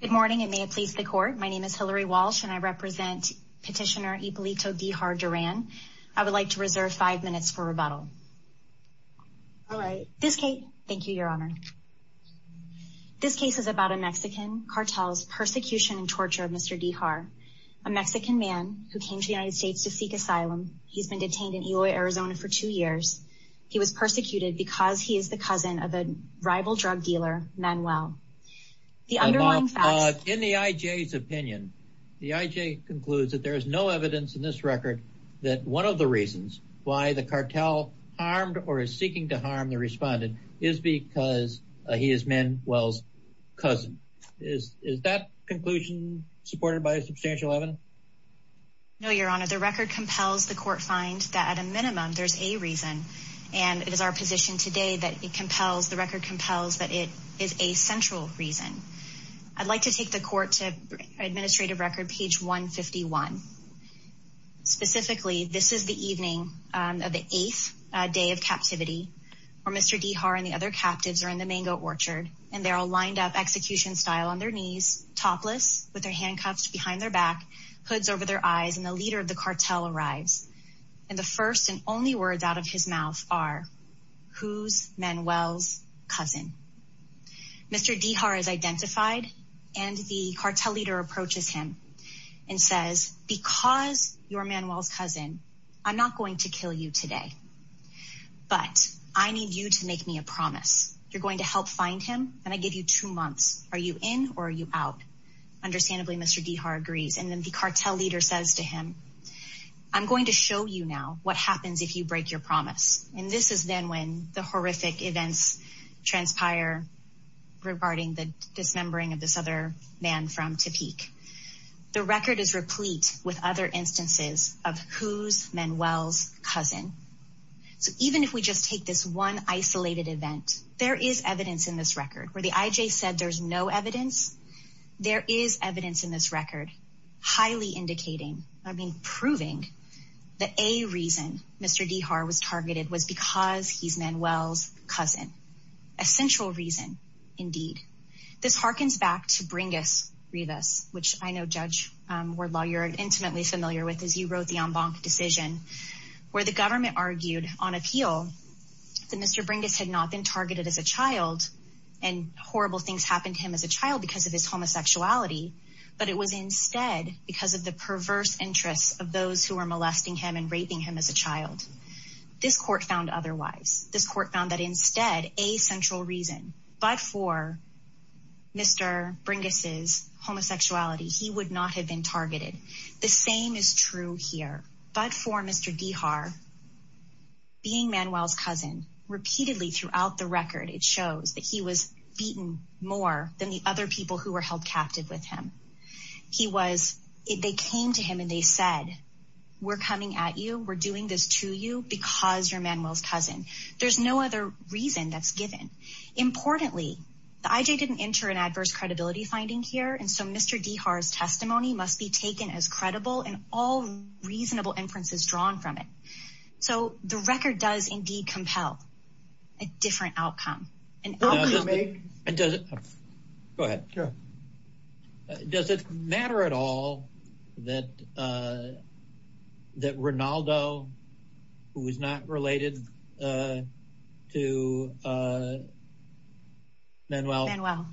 Good morning and may it please the court. My name is Hillary Walsh and I represent petitioner Ibolito Dijar Duran. I would like to reserve five minutes for rebuttal. All right. This case, thank you your honor, this case is about a Mexican cartel's persecution and torture of Mr. Dijar, a Mexican man who came to the United States to seek asylum. He's been detained in Illoy, Arizona for two years. He was persecuted because he is the cousin of a In the IJ's opinion, the IJ concludes that there is no evidence in this record that one of the reasons why the cartel harmed or is seeking to harm the respondent is because he is Manuel's cousin. Is that conclusion supported by substantial evidence? No, your honor. The record compels the court find that at a minimum there's a reason and it is our position today that it compels, the record compels that it is a central reason. I'd like to take the court to administrative record page 151. Specifically, this is the evening of the eighth day of captivity where Mr. Dijar and the other captives are in the mango orchard and they're all lined up execution style on their knees, topless with their handcuffs behind their back, hoods over their eyes and the cartel arrives. And the first and only words out of his mouth are, who's Manuel's cousin? Mr. Dijar is identified and the cartel leader approaches him and says, because you're Manuel's cousin, I'm not going to kill you today, but I need you to make me a promise. You're going to help find him and I give you two months. Are you in or are you out? Understandably, Mr. Dijar agrees and then the cartel leader says to him, I'm going to show you now what happens if you break your promise. And this is then when the horrific events transpire regarding the dismembering of this other man from Topeak. The record is replete with other instances of who's Manuel's cousin. So even if we just take this one isolated event, there is evidence in this record where the IJ said there's no evidence. There is evidence in this record, highly indicating, I mean, proving that a reason Mr. Dijar was targeted was because he's Manuel's cousin. Essential reason, indeed. This harkens back to Bringas Rivas, which I know Judge Wardlaw, you're intimately familiar with, as you wrote the en banc decision, where the government argued on appeal that Mr. Bringas had not been targeted as a child and horrible things happened to him as a child because of his homosexuality, but it was instead because of the perverse interests of those who were molesting him and raping him as a child. This court found otherwise. This court found that instead, a central reason, but for Mr. Bringas' homosexuality, he would not have been targeted. The same is true here, but for Mr. Dijar, being Manuel's cousin, repeatedly throughout the record, it shows that he was beaten more than the other people who were held captive with him. He was, they came to him and they said, we're coming at you, we're doing this to you because you're Manuel's cousin. There's no other reason that's given. Importantly, the IJ didn't enter an adverse credibility finding here, and so Mr. Dijar's testimony must be taken as credible and all reasonable inferences drawn from it. So the record does indeed compel a different outcome. Go ahead. Does it matter at all that Rinaldo, who is not related to Manuel,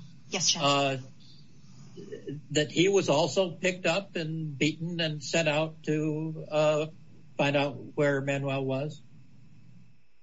that he was also picked up and beaten and sent out to find out where Manuel was?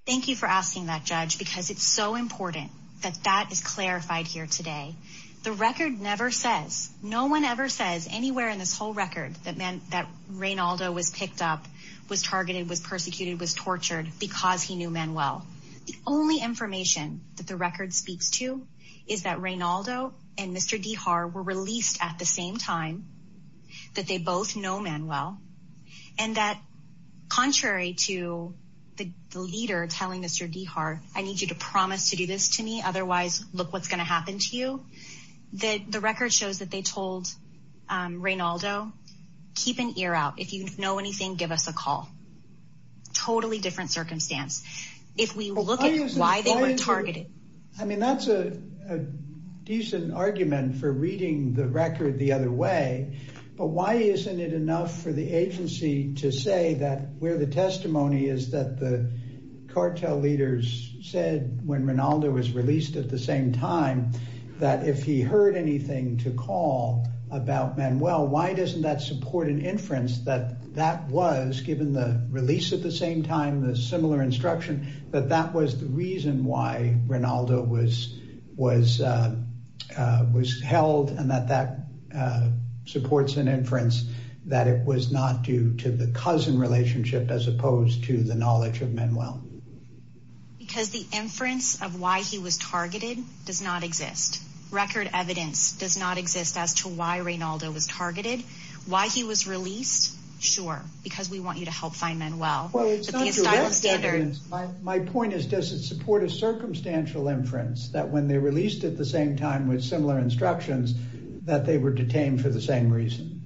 Thank you for asking that, Judge, because it's so important that that is clarified here today. The record never says, no one ever says anywhere in this whole record that Rinaldo was picked up, was targeted, was persecuted, was tortured because he knew Manuel. The only information that the record speaks to is that Rinaldo and Mr. Dijar were released at the same time, that they both know Manuel, and that contrary to the leader telling Mr. Dijar, I need you to promise to do this to me, otherwise look what's going to happen to you. The record shows that they told Rinaldo, keep an ear out. If you know anything, give us a call. Totally different circumstance. If we look at why they were targeted. I mean, that's a decent argument for reading the record the other way. But why isn't it enough for the agency to say that where the testimony is that the cartel leaders said when Rinaldo was released at the same time, that if he heard anything to call about Manuel, why doesn't that support an inference that that given the release at the same time, the similar instruction, that that was the reason why Rinaldo was held and that that supports an inference that it was not due to the cousin relationship as opposed to the knowledge of Manuel. Because the inference of why he was targeted does not exist. Record evidence does not exist as to why Rinaldo was targeted, why he was released. Sure, because we want you to help find Manuel. My point is, does it support a circumstantial inference that when they released at the same time with similar instructions that they were detained for the same reason?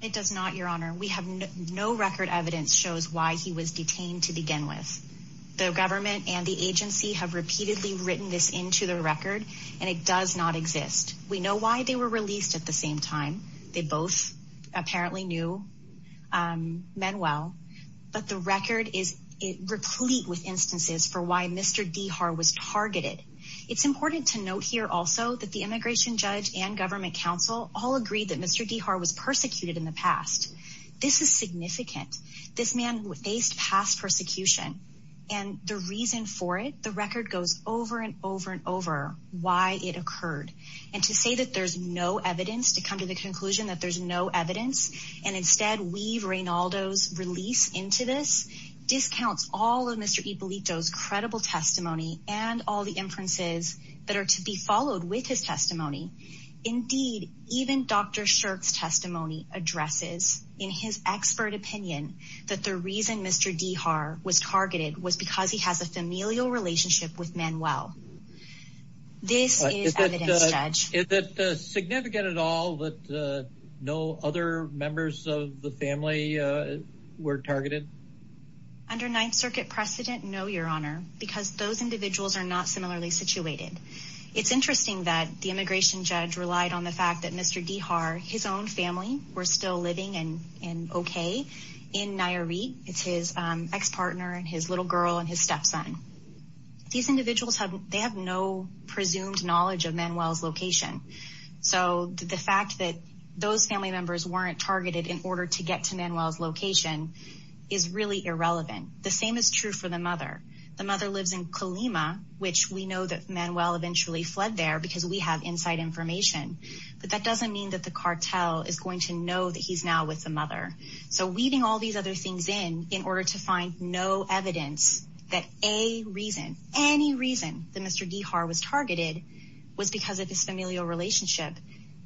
It does not, your honor. We have no record evidence shows why he was detained to begin with. The government and the agency have repeatedly written this into the record, and it does not exist. We know why they were released at the same time. They both apparently knew Manuel, but the record is replete with instances for why Mr. Dihar was targeted. It's important to note here also that the immigration judge and government council all agreed that Mr. Dihar was persecuted in the past. This is significant. This man faced past persecution, and the reason for it, the record goes over and over and over why it occurred. And to say that there's no evidence, to come to the conclusion that there's no evidence, and instead we've Rinaldo's release into this discounts all of Mr. Ippolito's credible testimony and all the inferences that are to be followed with his testimony. Indeed, even Dr. Shirk's was targeted was because he has a familial relationship with Manuel. This is evidence, Judge. Is it significant at all that no other members of the family were targeted? Under Ninth Circuit precedent, no, your honor, because those individuals are not similarly situated. It's interesting that the immigration judge relied on the fact that Mr. and okay in Nairi. It's his ex-partner and his little girl and his stepson. These individuals have they have no presumed knowledge of Manuel's location. So the fact that those family members weren't targeted in order to get to Manuel's location is really irrelevant. The same is true for the mother. The mother lives in Kalima, which we know that Manuel eventually fled there because we have inside information. But that doesn't mean that the cartel is going to know that he's now with the mother. So weeding all these other things in in order to find no evidence that a reason, any reason that Mr. Dihar was targeted was because of this familial relationship.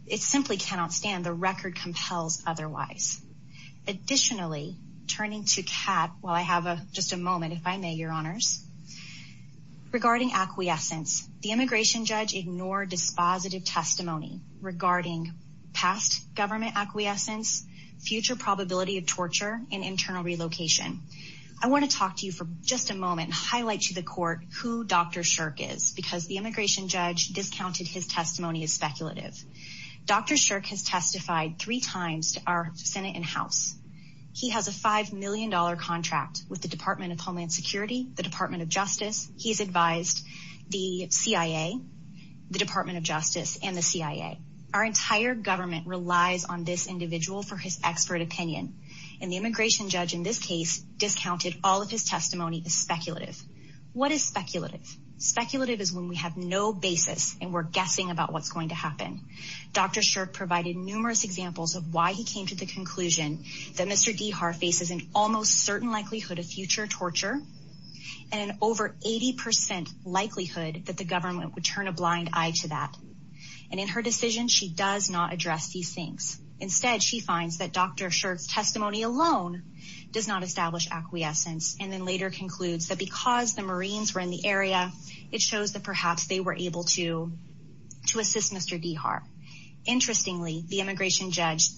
It simply cannot stand the record compels otherwise. Additionally, turning to cat while I have a just a moment, if I may, your honors. Regarding acquiescence, the immigration judge ignored dispositive testimony regarding past government acquiescence, future probability of torture and internal relocation. I want to talk to you for just a moment. Highlight to the court who Dr. Shirk is because the immigration judge discounted his testimony is speculative. Dr. Shirk has testified three times to our Senate and House. He has a $5 million contract with the Department of Homeland Security, the Department of Justice. He's advised the CIA, the Department of Justice and the CIA. Our entire government relies on this individual for his expert opinion. And the immigration judge in this case discounted all of his testimony is speculative. What is speculative? Speculative is when we have no basis and we're guessing about what's going to happen. Dr. Shirk provided numerous examples of why he came to the conclusion that Mr. Dehar faces an almost certain likelihood of future torture and over 80 percent likelihood that the government would turn a blind eye to that. And in her decision, she does not address these things. Instead, she finds that Dr. Shirk's testimony alone does not establish acquiescence. And then later concludes that because the Marines were in the area, it shows that perhaps they were able to assist Mr. Dehar. Interestingly, the immigration judge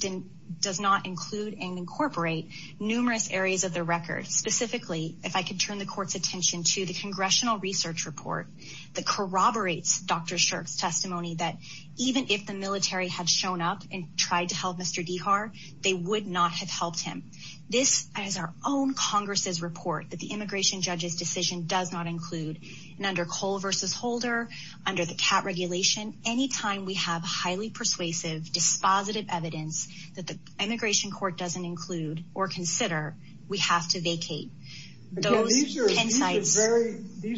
does not include and incorporate numerous areas of the record. Specifically, if I could turn the court's attention to the congressional research report that corroborates Dr. Shirk's testimony that even if the military had shown up and tried to help Mr. Dehar, they would not have helped him. This is our own Congress's report that the immigration judge's decision does not include and under Cole versus Holder, under the CAT regulation, anytime we have highly persuasive, dispositive evidence that the immigration court doesn't include or consider, we have to vacate. These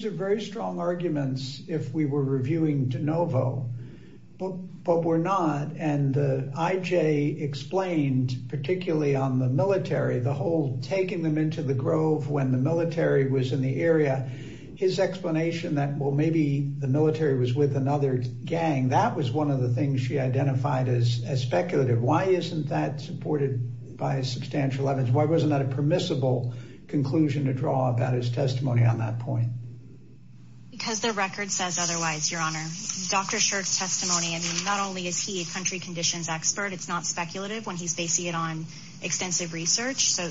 are very strong arguments if we were reviewing De Novo, but we're not. And the IJ explained, particularly on the military, the whole taking them into the grove when the military was in the area. His explanation that, well, maybe the military was with another gang, that was one of the things she identified as speculative. Why isn't that supported by substantial evidence? Why wasn't that a permissible conclusion to draw about his testimony on that point? Because the record says otherwise, Your Honor. Dr. Shirk's testimony, I mean, not only is he a country conditions expert, it's not speculative when he's basing it on extensive research. So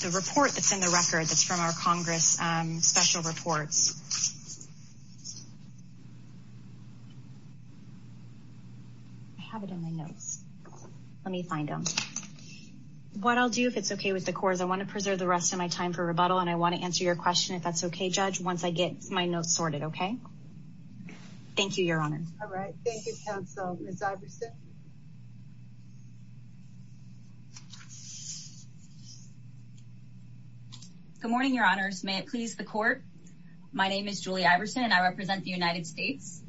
the report that's in the record that's from our Congress, special reports. I have it in my notes. Let me find them. What I'll do if it's okay with the court is I want to preserve the rest of my time for rebuttal, and I want to answer your question if that's okay, Judge, once I get my notes sorted, okay? Thank you, Your Honor. All right. Thank you, counsel. Good morning, Your Honors. May it please the court? My name is Julie Iverson, and I represent the United States.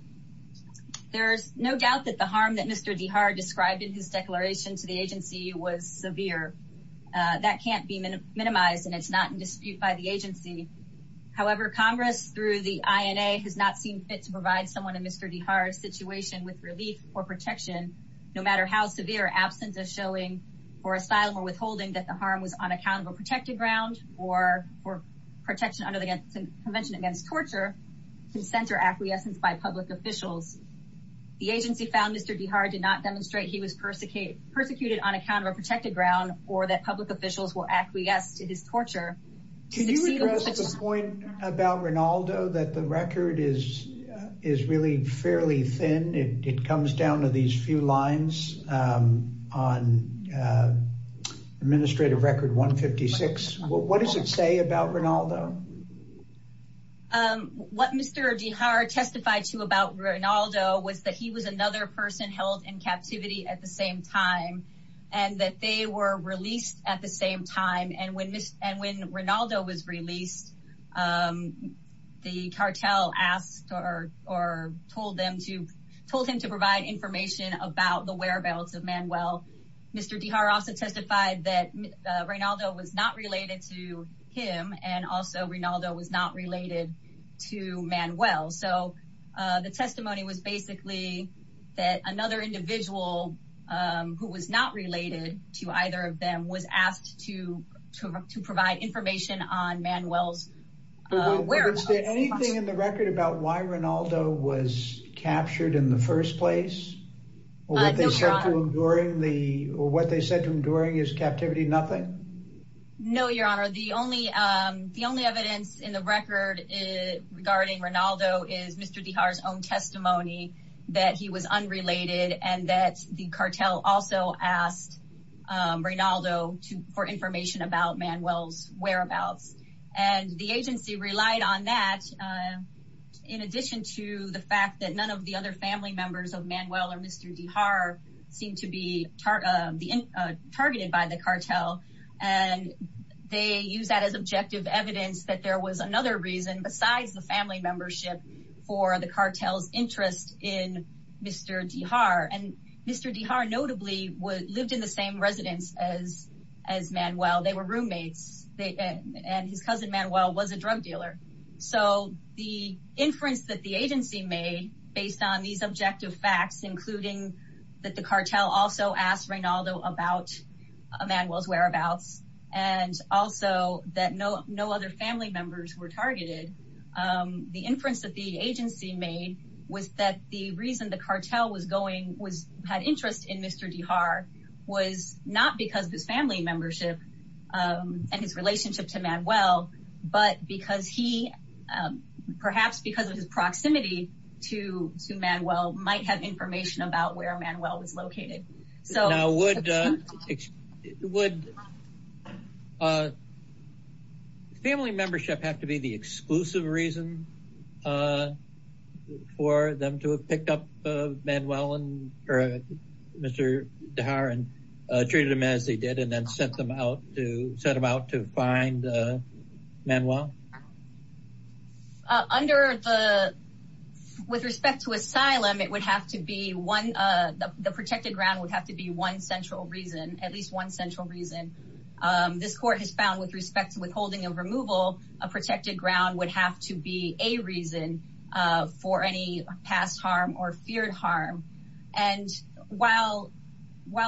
There's no doubt that the harm that Mr. Dihar described in his declaration to the agency was severe. That can't be minimized, and it's not in dispute by the agency. However, Congress, through the INA, has not seen fit to provide someone in Mr. Dihar's situation with on account of a protected ground or protection under the Convention Against Torture, consent or acquiescence by public officials. The agency found Mr. Dihar did not demonstrate he was persecuted on account of a protected ground or that public officials will acquiesce to his torture. Can you address the point about Rinaldo that the record is really fairly thin? It comes down to these few lines on Administrative Record 156. What does it say about Rinaldo? What Mr. Dihar testified to about Rinaldo was that he was another person held in captivity at the same time, and that they were released at the same time. And when Rinaldo was released, the cartel asked or told him to provide information about the whereabouts of Manuel. Mr. Dihar also testified that Rinaldo was not related to him, and also Rinaldo was not related to Manuel. So the testimony was basically that another individual who was not related to either of them was asked to provide information on Manuel's whereabouts. Is there anything in the record about why Rinaldo was captured in the first place? Or what they said to him during his captivity, nothing? No, Your Honor. The only evidence in the record regarding Rinaldo is Mr. Dihar's own testimony that he was unrelated and that the cartel also asked Rinaldo for information about Manuel's whereabouts. And the agency relied on that in addition to the fact that none of the other family members of Manuel or Mr. Dihar seemed to be targeted by the cartel. And they use that as objective evidence that there was another reason besides the family membership for the cartel's interest in Mr. Dihar. And Mr. Dihar notably lived in the same residence as Manuel. They were roommates, and his cousin Manuel was a drug dealer. So the inference that the agency made based on these objective facts, including that the cartel also asked Rinaldo about Manuel's whereabouts, and also that no other family members were targeted, the inference that the agency made was that the reason the cartel was going was had interest in Mr. Dihar was not because of his family membership and his relationship to Manuel, but because he, perhaps because of his proximity to Manuel, might have information about where Manuel was located. Would family membership have to be the exclusive reason for them to have picked up Manuel and Mr. Dihar and treated him as they did and then sent them out to find Manuel? With respect to asylum, the protected ground would have to be one central reason, at least one central reason. This court has found with respect to withholding of removal, a protected ground would have to be a reason for any past harm or feared harm. And while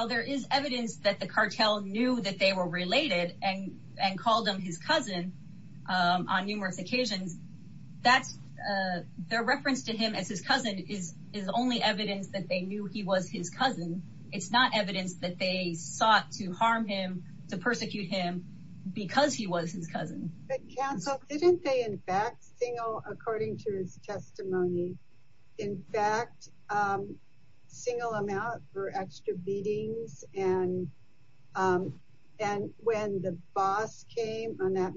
there is evidence that the cartel knew that they were related and called him his cousin on numerous occasions, their reference to him as his cousin is only evidence that they knew he was his cousin. It's not evidence that they sought to harm him, to persecute him because he was his single amount for extra beatings. And when the boss came on that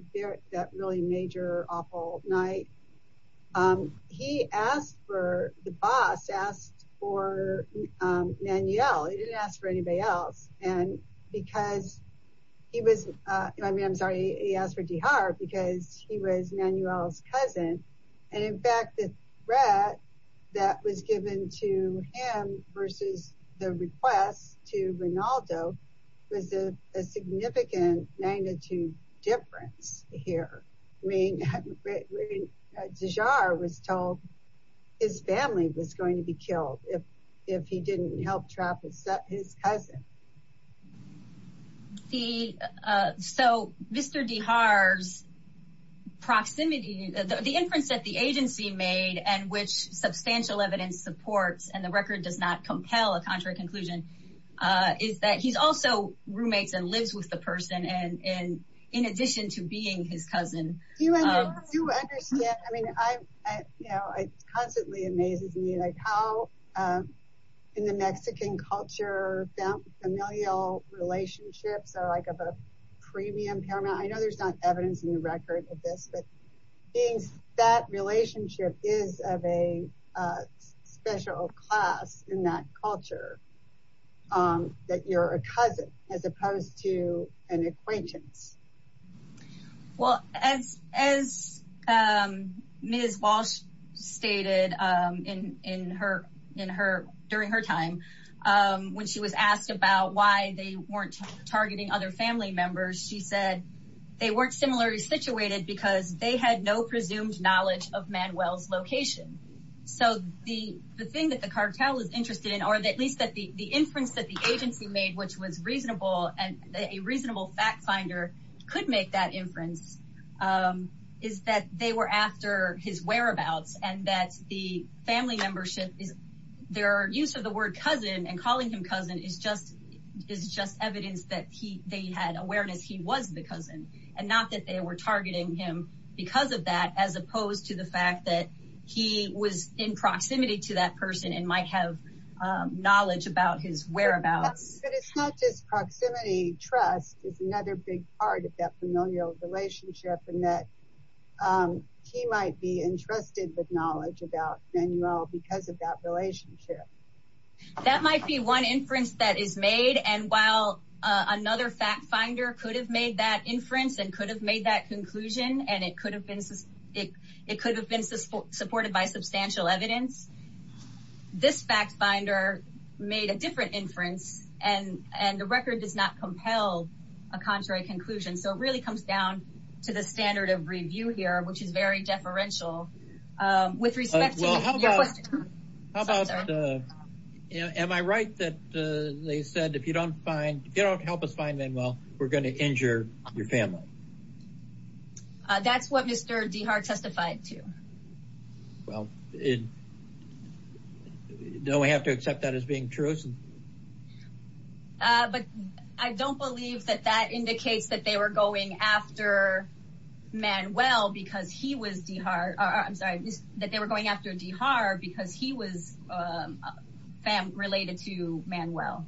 really major awful night, he asked for, the boss asked for Manuel. He didn't ask for anybody else. And because he was, I'm sorry, he asked for Dihar because he was Manuel's cousin. And in fact, the threat that was given to him versus the request to Rinaldo was a significant magnitude difference here. I mean, Dihar was told his family was going to be killed if he didn't help trap his cousin. The, so Mr. Dihar's proximity, the inference that the agency made and which substantial evidence supports, and the record does not compel a contrary conclusion, is that he's also roommates and lives with the person and in addition to being his cousin. Do you understand, I mean, I, you know, it constantly amazes me like how in the Mexican culture, familial relationships are like a premium paramount. I know there's not evidence in the record of this, but that relationship is of a special class in that As Ms. Walsh stated in her, in her, during her time, when she was asked about why they weren't targeting other family members, she said they weren't similarly situated because they had no presumed knowledge of Manuel's location. So the thing that the cartel is interested in, or at least that the inference that the agency made, which was reasonable, and a reasonable fact finder could make that inference, is that they were after his whereabouts and that the family membership is, their use of the word cousin and calling him cousin is just, is just evidence that he, they had awareness he was the cousin and not that they were targeting him because of that, as opposed to the fact that he was in proximity to that person and might have knowledge about his whereabouts. But it's not just proximity, trust is another big part of that familial relationship and that he might be entrusted with knowledge about Manuel because of that relationship. That might be one inference that is made. And while another fact finder could have made that inference and could have made that conclusion, and it could have been, supported by substantial evidence, this fact finder made a different inference and, and the record does not compel a contrary conclusion. So it really comes down to the standard of review here, which is very deferential with respect to your question. How about, am I right that they said if you don't find, if you don't help us find Manuel, we're going to injure your family? Uh, that's what Mr. Dihar testified to. Well, don't we have to accept that as being true? Uh, but I don't believe that that indicates that they were going after Manuel because he was Dihar, or I'm sorry, that they were going after Dihar because he was, um, related to Manuel.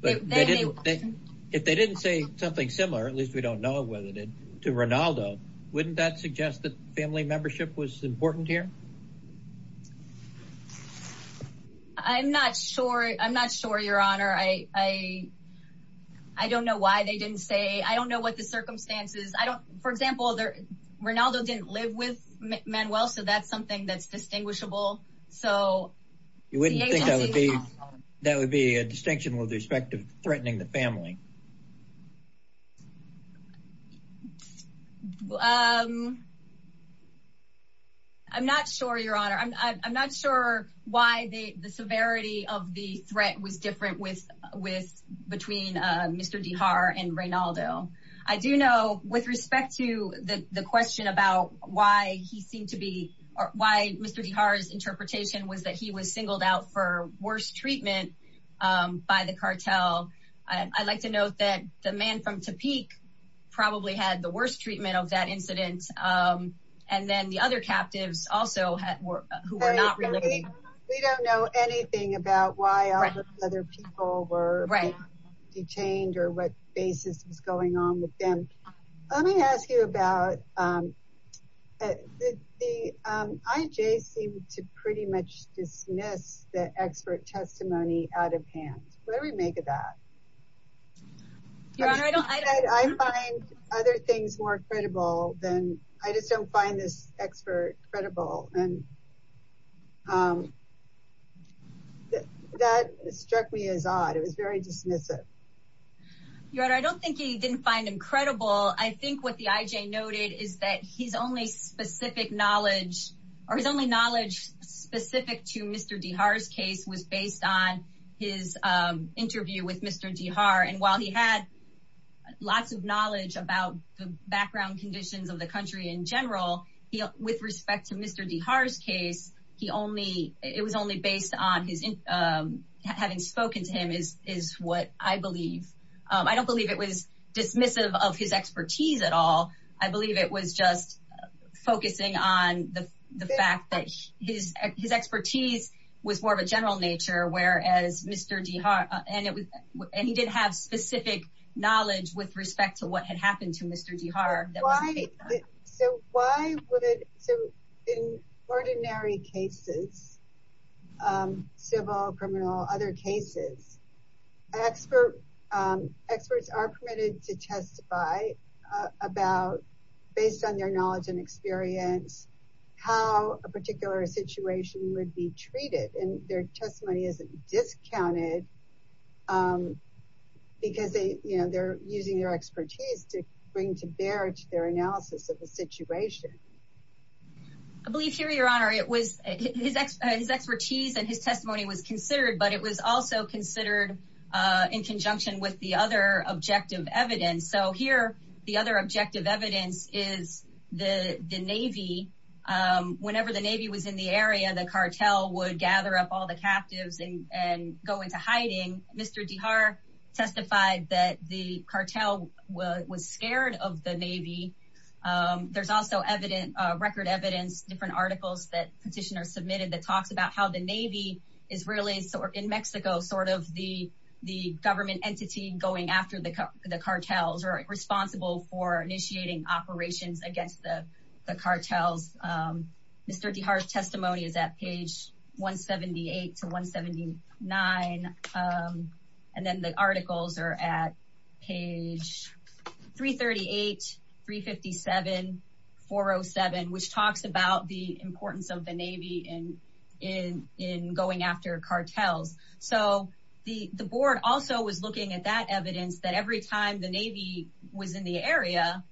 But if they didn't say something similar, at least we don't know whether they did to Ronaldo, wouldn't that suggest that family membership was important here? I'm not sure. I'm not sure, your honor. I, I, I don't know why they didn't say, I don't know what the circumstances, I don't, for example, there, Ronaldo didn't live with Manuel. So that's something that's distinguishable. So you wouldn't think that would be, that would be a distinction with respect to threatening the family. Um, I'm not sure, your honor. I'm, I'm not sure why the severity of the threat was different with, with, between, uh, Mr. Dihar and Ronaldo. I do know with respect to the, the question about why he seemed to be, or why Mr. Dihar's interpretation was that he was singled out for worse treatment, um, by the cartel. I like to note that the man from Topeak probably had the worst treatment of that incident. Um, and then the other captives also had, were, who were not related. We don't know anything about why other people were detained or what basis was going on with them. Let me ask you about, um, the, the, um, IJ seemed to pretty dismiss the expert testimony out of hand. What do we make of that? Your honor, I don't, I find other things more credible than, I just don't find this expert credible. And, um, that struck me as odd. It was very dismissive. Your honor, I don't think he didn't find him credible. I think what the IJ noted is that his only specific knowledge, or his only knowledge specific to Mr. Dihar's case was based on his, um, interview with Mr. Dihar. And while he had lots of knowledge about the background conditions of the country in general, he, with respect to Mr. Dihar's case, he only, it was only based on his, um, having spoken to him is, is what I believe. Um, I don't believe it was dismissive of his expertise at all. I believe it was just focusing on the fact that his, his expertise was more of a general nature, whereas Mr. Dihar, and it was, and he did have specific knowledge with respect to what had happened to Mr. Dihar. So why would it, so in ordinary cases, um, civil, criminal, other cases, expert, um, experts are permitted to testify about, based on their knowledge and experience, how a particular situation would be treated. And their testimony isn't discounted, um, because they, you know, they're using their expertise to bring to bear to their analysis of the situation. I believe here, your honor, it was his, his expertise and his testimony was considered, but it was also considered, uh, in conjunction with the other objective evidence. So here, the other objective evidence is the Navy. Um, whenever the Navy was in the area, the cartel would gather up all the captives and go into hiding. Mr. Dihar testified that the cartel was scared of the Navy. Um, there's also evident, uh, record evidence, different articles that petitioners submitted that talks about how the Navy is really sort of, in Mexico, sort of the, the government entity going after the cartels or responsible for initiating operations against the cartels. Um, Mr. Dihar's testimony is at page 178 to 179. Um, and then the articles are at page 338, 357, 407, which talks about the importance of the Navy in, in, in going after cartels. So the, the board also was looking at that evidence that every time the Navy was in the area,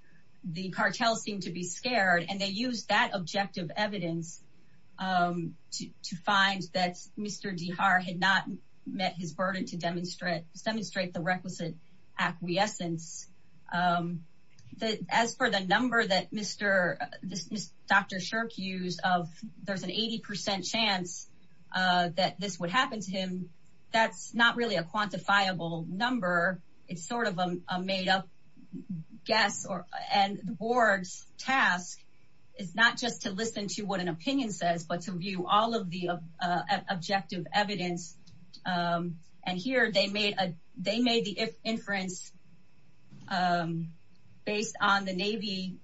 the cartel seemed to be scared and they used that objective evidence, um, to, to find that Mr. Dihar had not met his burden to demonstrate, demonstrate the requisite acquiescence. Um, as for the number that Mr., Dr. Shirk used of there's an 80% chance, uh, that this would happen to him, that's not really a quantifiable number. It's sort of a made up guess or, and the board's task is not just to listen to what an opinion says, but to view all of the, uh, uh, objective evidence. Um, and here they made a, they made the inference, um, based on the Navy,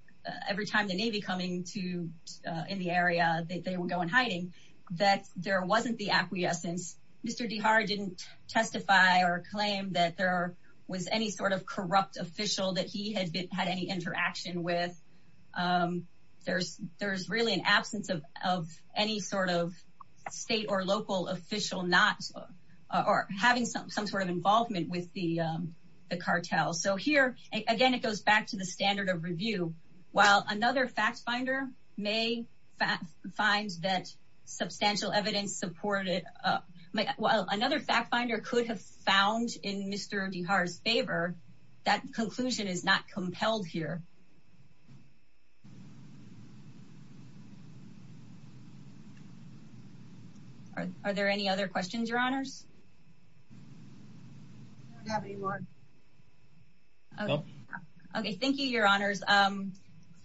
every time the Navy coming to, uh, in the area that they would go in hiding, that there wasn't the acquiescence. Mr. Dihar didn't testify or claim that there was any sort of corrupt official that he had been, had any interaction with. Um, there's, there's really an absence of, of any sort of state or local official not, or having some, some sort of involvement with the, um, the cartel. So here, again, it goes back to the standard of review. While another fact finder may find that substantial evidence supported, uh, well, another fact finder could have found in Mr. Dihar's favor that conclusion is not compelled here. Are there any other questions, your honors? Okay. Thank you, your honors. Um,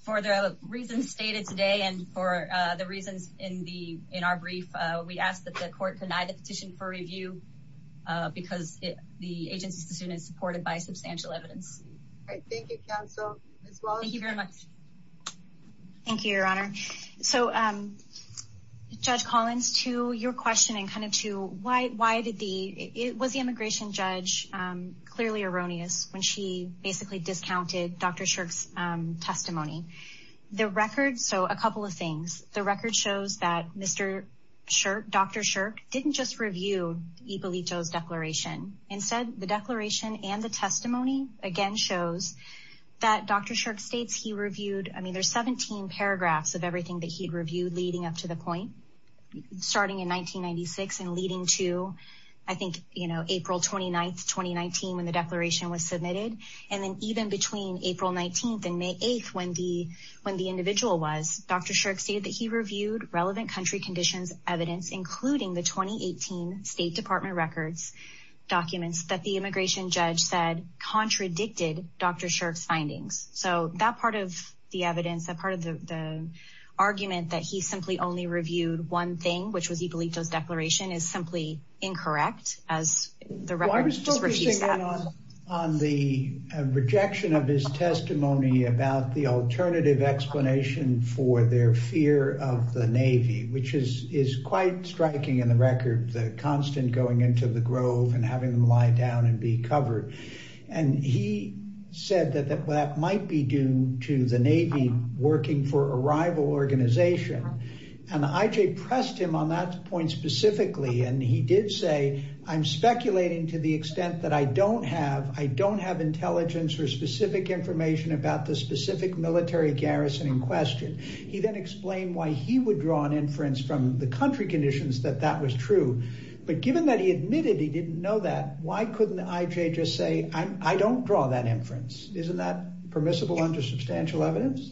for the reasons stated today and for, uh, the reasons in the, in our brief, uh, we asked that the court denied the petition for review, uh, because it, the agency's decision is supported by substantial evidence. Thank you, counsel. Thank you very much. Thank you, your honor. So, um, Judge Collins to your question and kind of to why, why did the, it was the immigration judge, um, clearly erroneous when she basically discounted Dr. Shirk's, um, testimony. The record. So a couple of things, the record shows that Mr. Shirk, Dr. Shirk didn't just review Ippolito's declaration and said the declaration and the testimony again shows that Dr. Shirk states he reviewed, I mean, there's 17 paragraphs of everything that he'd reviewed leading up to the point starting in 1996 and leading to, I think, you know, April 29th, 2019, when the declaration was submitted. And then even between April 19th and May 8th, when the, when the individual was Dr. Shirk stated that he reviewed relevant country conditions, evidence, including the 2018 state department records documents that the immigration judge said contradicted Dr. Shirk's findings. So that part of the evidence, that part of the, the argument that he simply only reviewed one thing, which was Ippolito's declaration is simply incorrect as the record. On the rejection of his testimony about the alternative explanation for their fear of the record, the constant going into the grove and having them lie down and be covered. And he said that that might be due to the Navy working for a rival organization. And IJ pressed him on that point specifically. And he did say, I'm speculating to the extent that I don't have, I don't have intelligence or specific information about the specific military garrison in question. He then explained why he would draw an inference from the country conditions that that was true. But given that he admitted, he didn't know that why couldn't IJ just say, I don't draw that inference. Isn't that permissible under substantial evidence?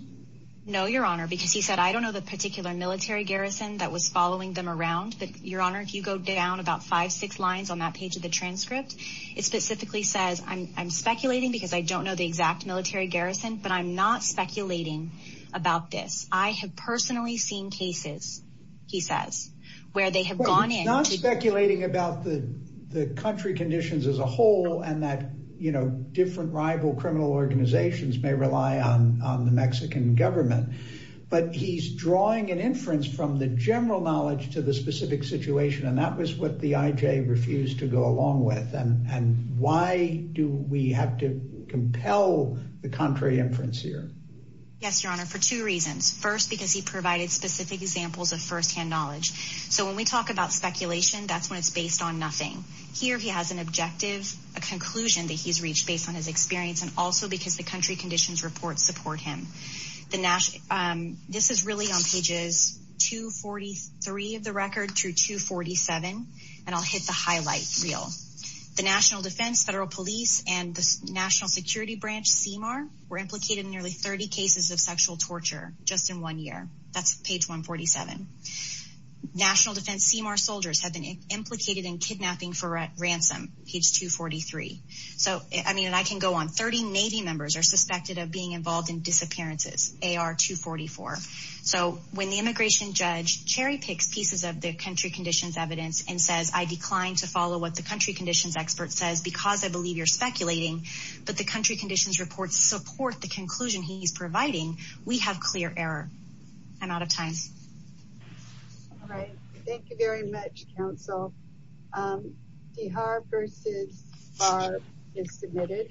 No, your honor, because he said, I don't know the particular military garrison that was following them around, but your honor, if you go down about five, six lines on that page of the transcript, it specifically says I'm speculating because I don't know the exact military garrison, but I'm not speculating about this. I have personally seen cases, he says, where they have gone in. He's not speculating about the country conditions as a whole and that, you know, different rival criminal organizations may rely on the Mexican government, but he's drawing an inference from the general knowledge to the specific situation. And that was what the IJ refused to go along with. And why do we have to compel the contrary inference here? Yes, your honor, for two reasons. First, because he provided specific examples of firsthand knowledge. So when we talk about speculation, that's when it's based on nothing here. He has an objective, a conclusion that he's reached based on his experience. And also because the country conditions reports support him. This is really on pages 243 of the record through 247. And I'll hit the highlight reel. The National Defense, Federal Police, and the National Security Branch, CEMAR, were implicated in nearly 30 cases of sexual torture just in one year. That's page 147. National Defense CEMAR soldiers have been implicated in kidnapping for ransom, page 243. So, I mean, I can go on. 30 Navy members are suspected of being involved in disappearances, AR 244. So when the immigration judge cherry picks pieces of the country conditions evidence and says, I declined to follow what the country conditions expert says because I believe you're speculating, but the country conditions reports support the conclusion he's providing, we have clear error. I'm out of time. All right. Thank you very much, counsel. D. Harv versus Harv is submitted.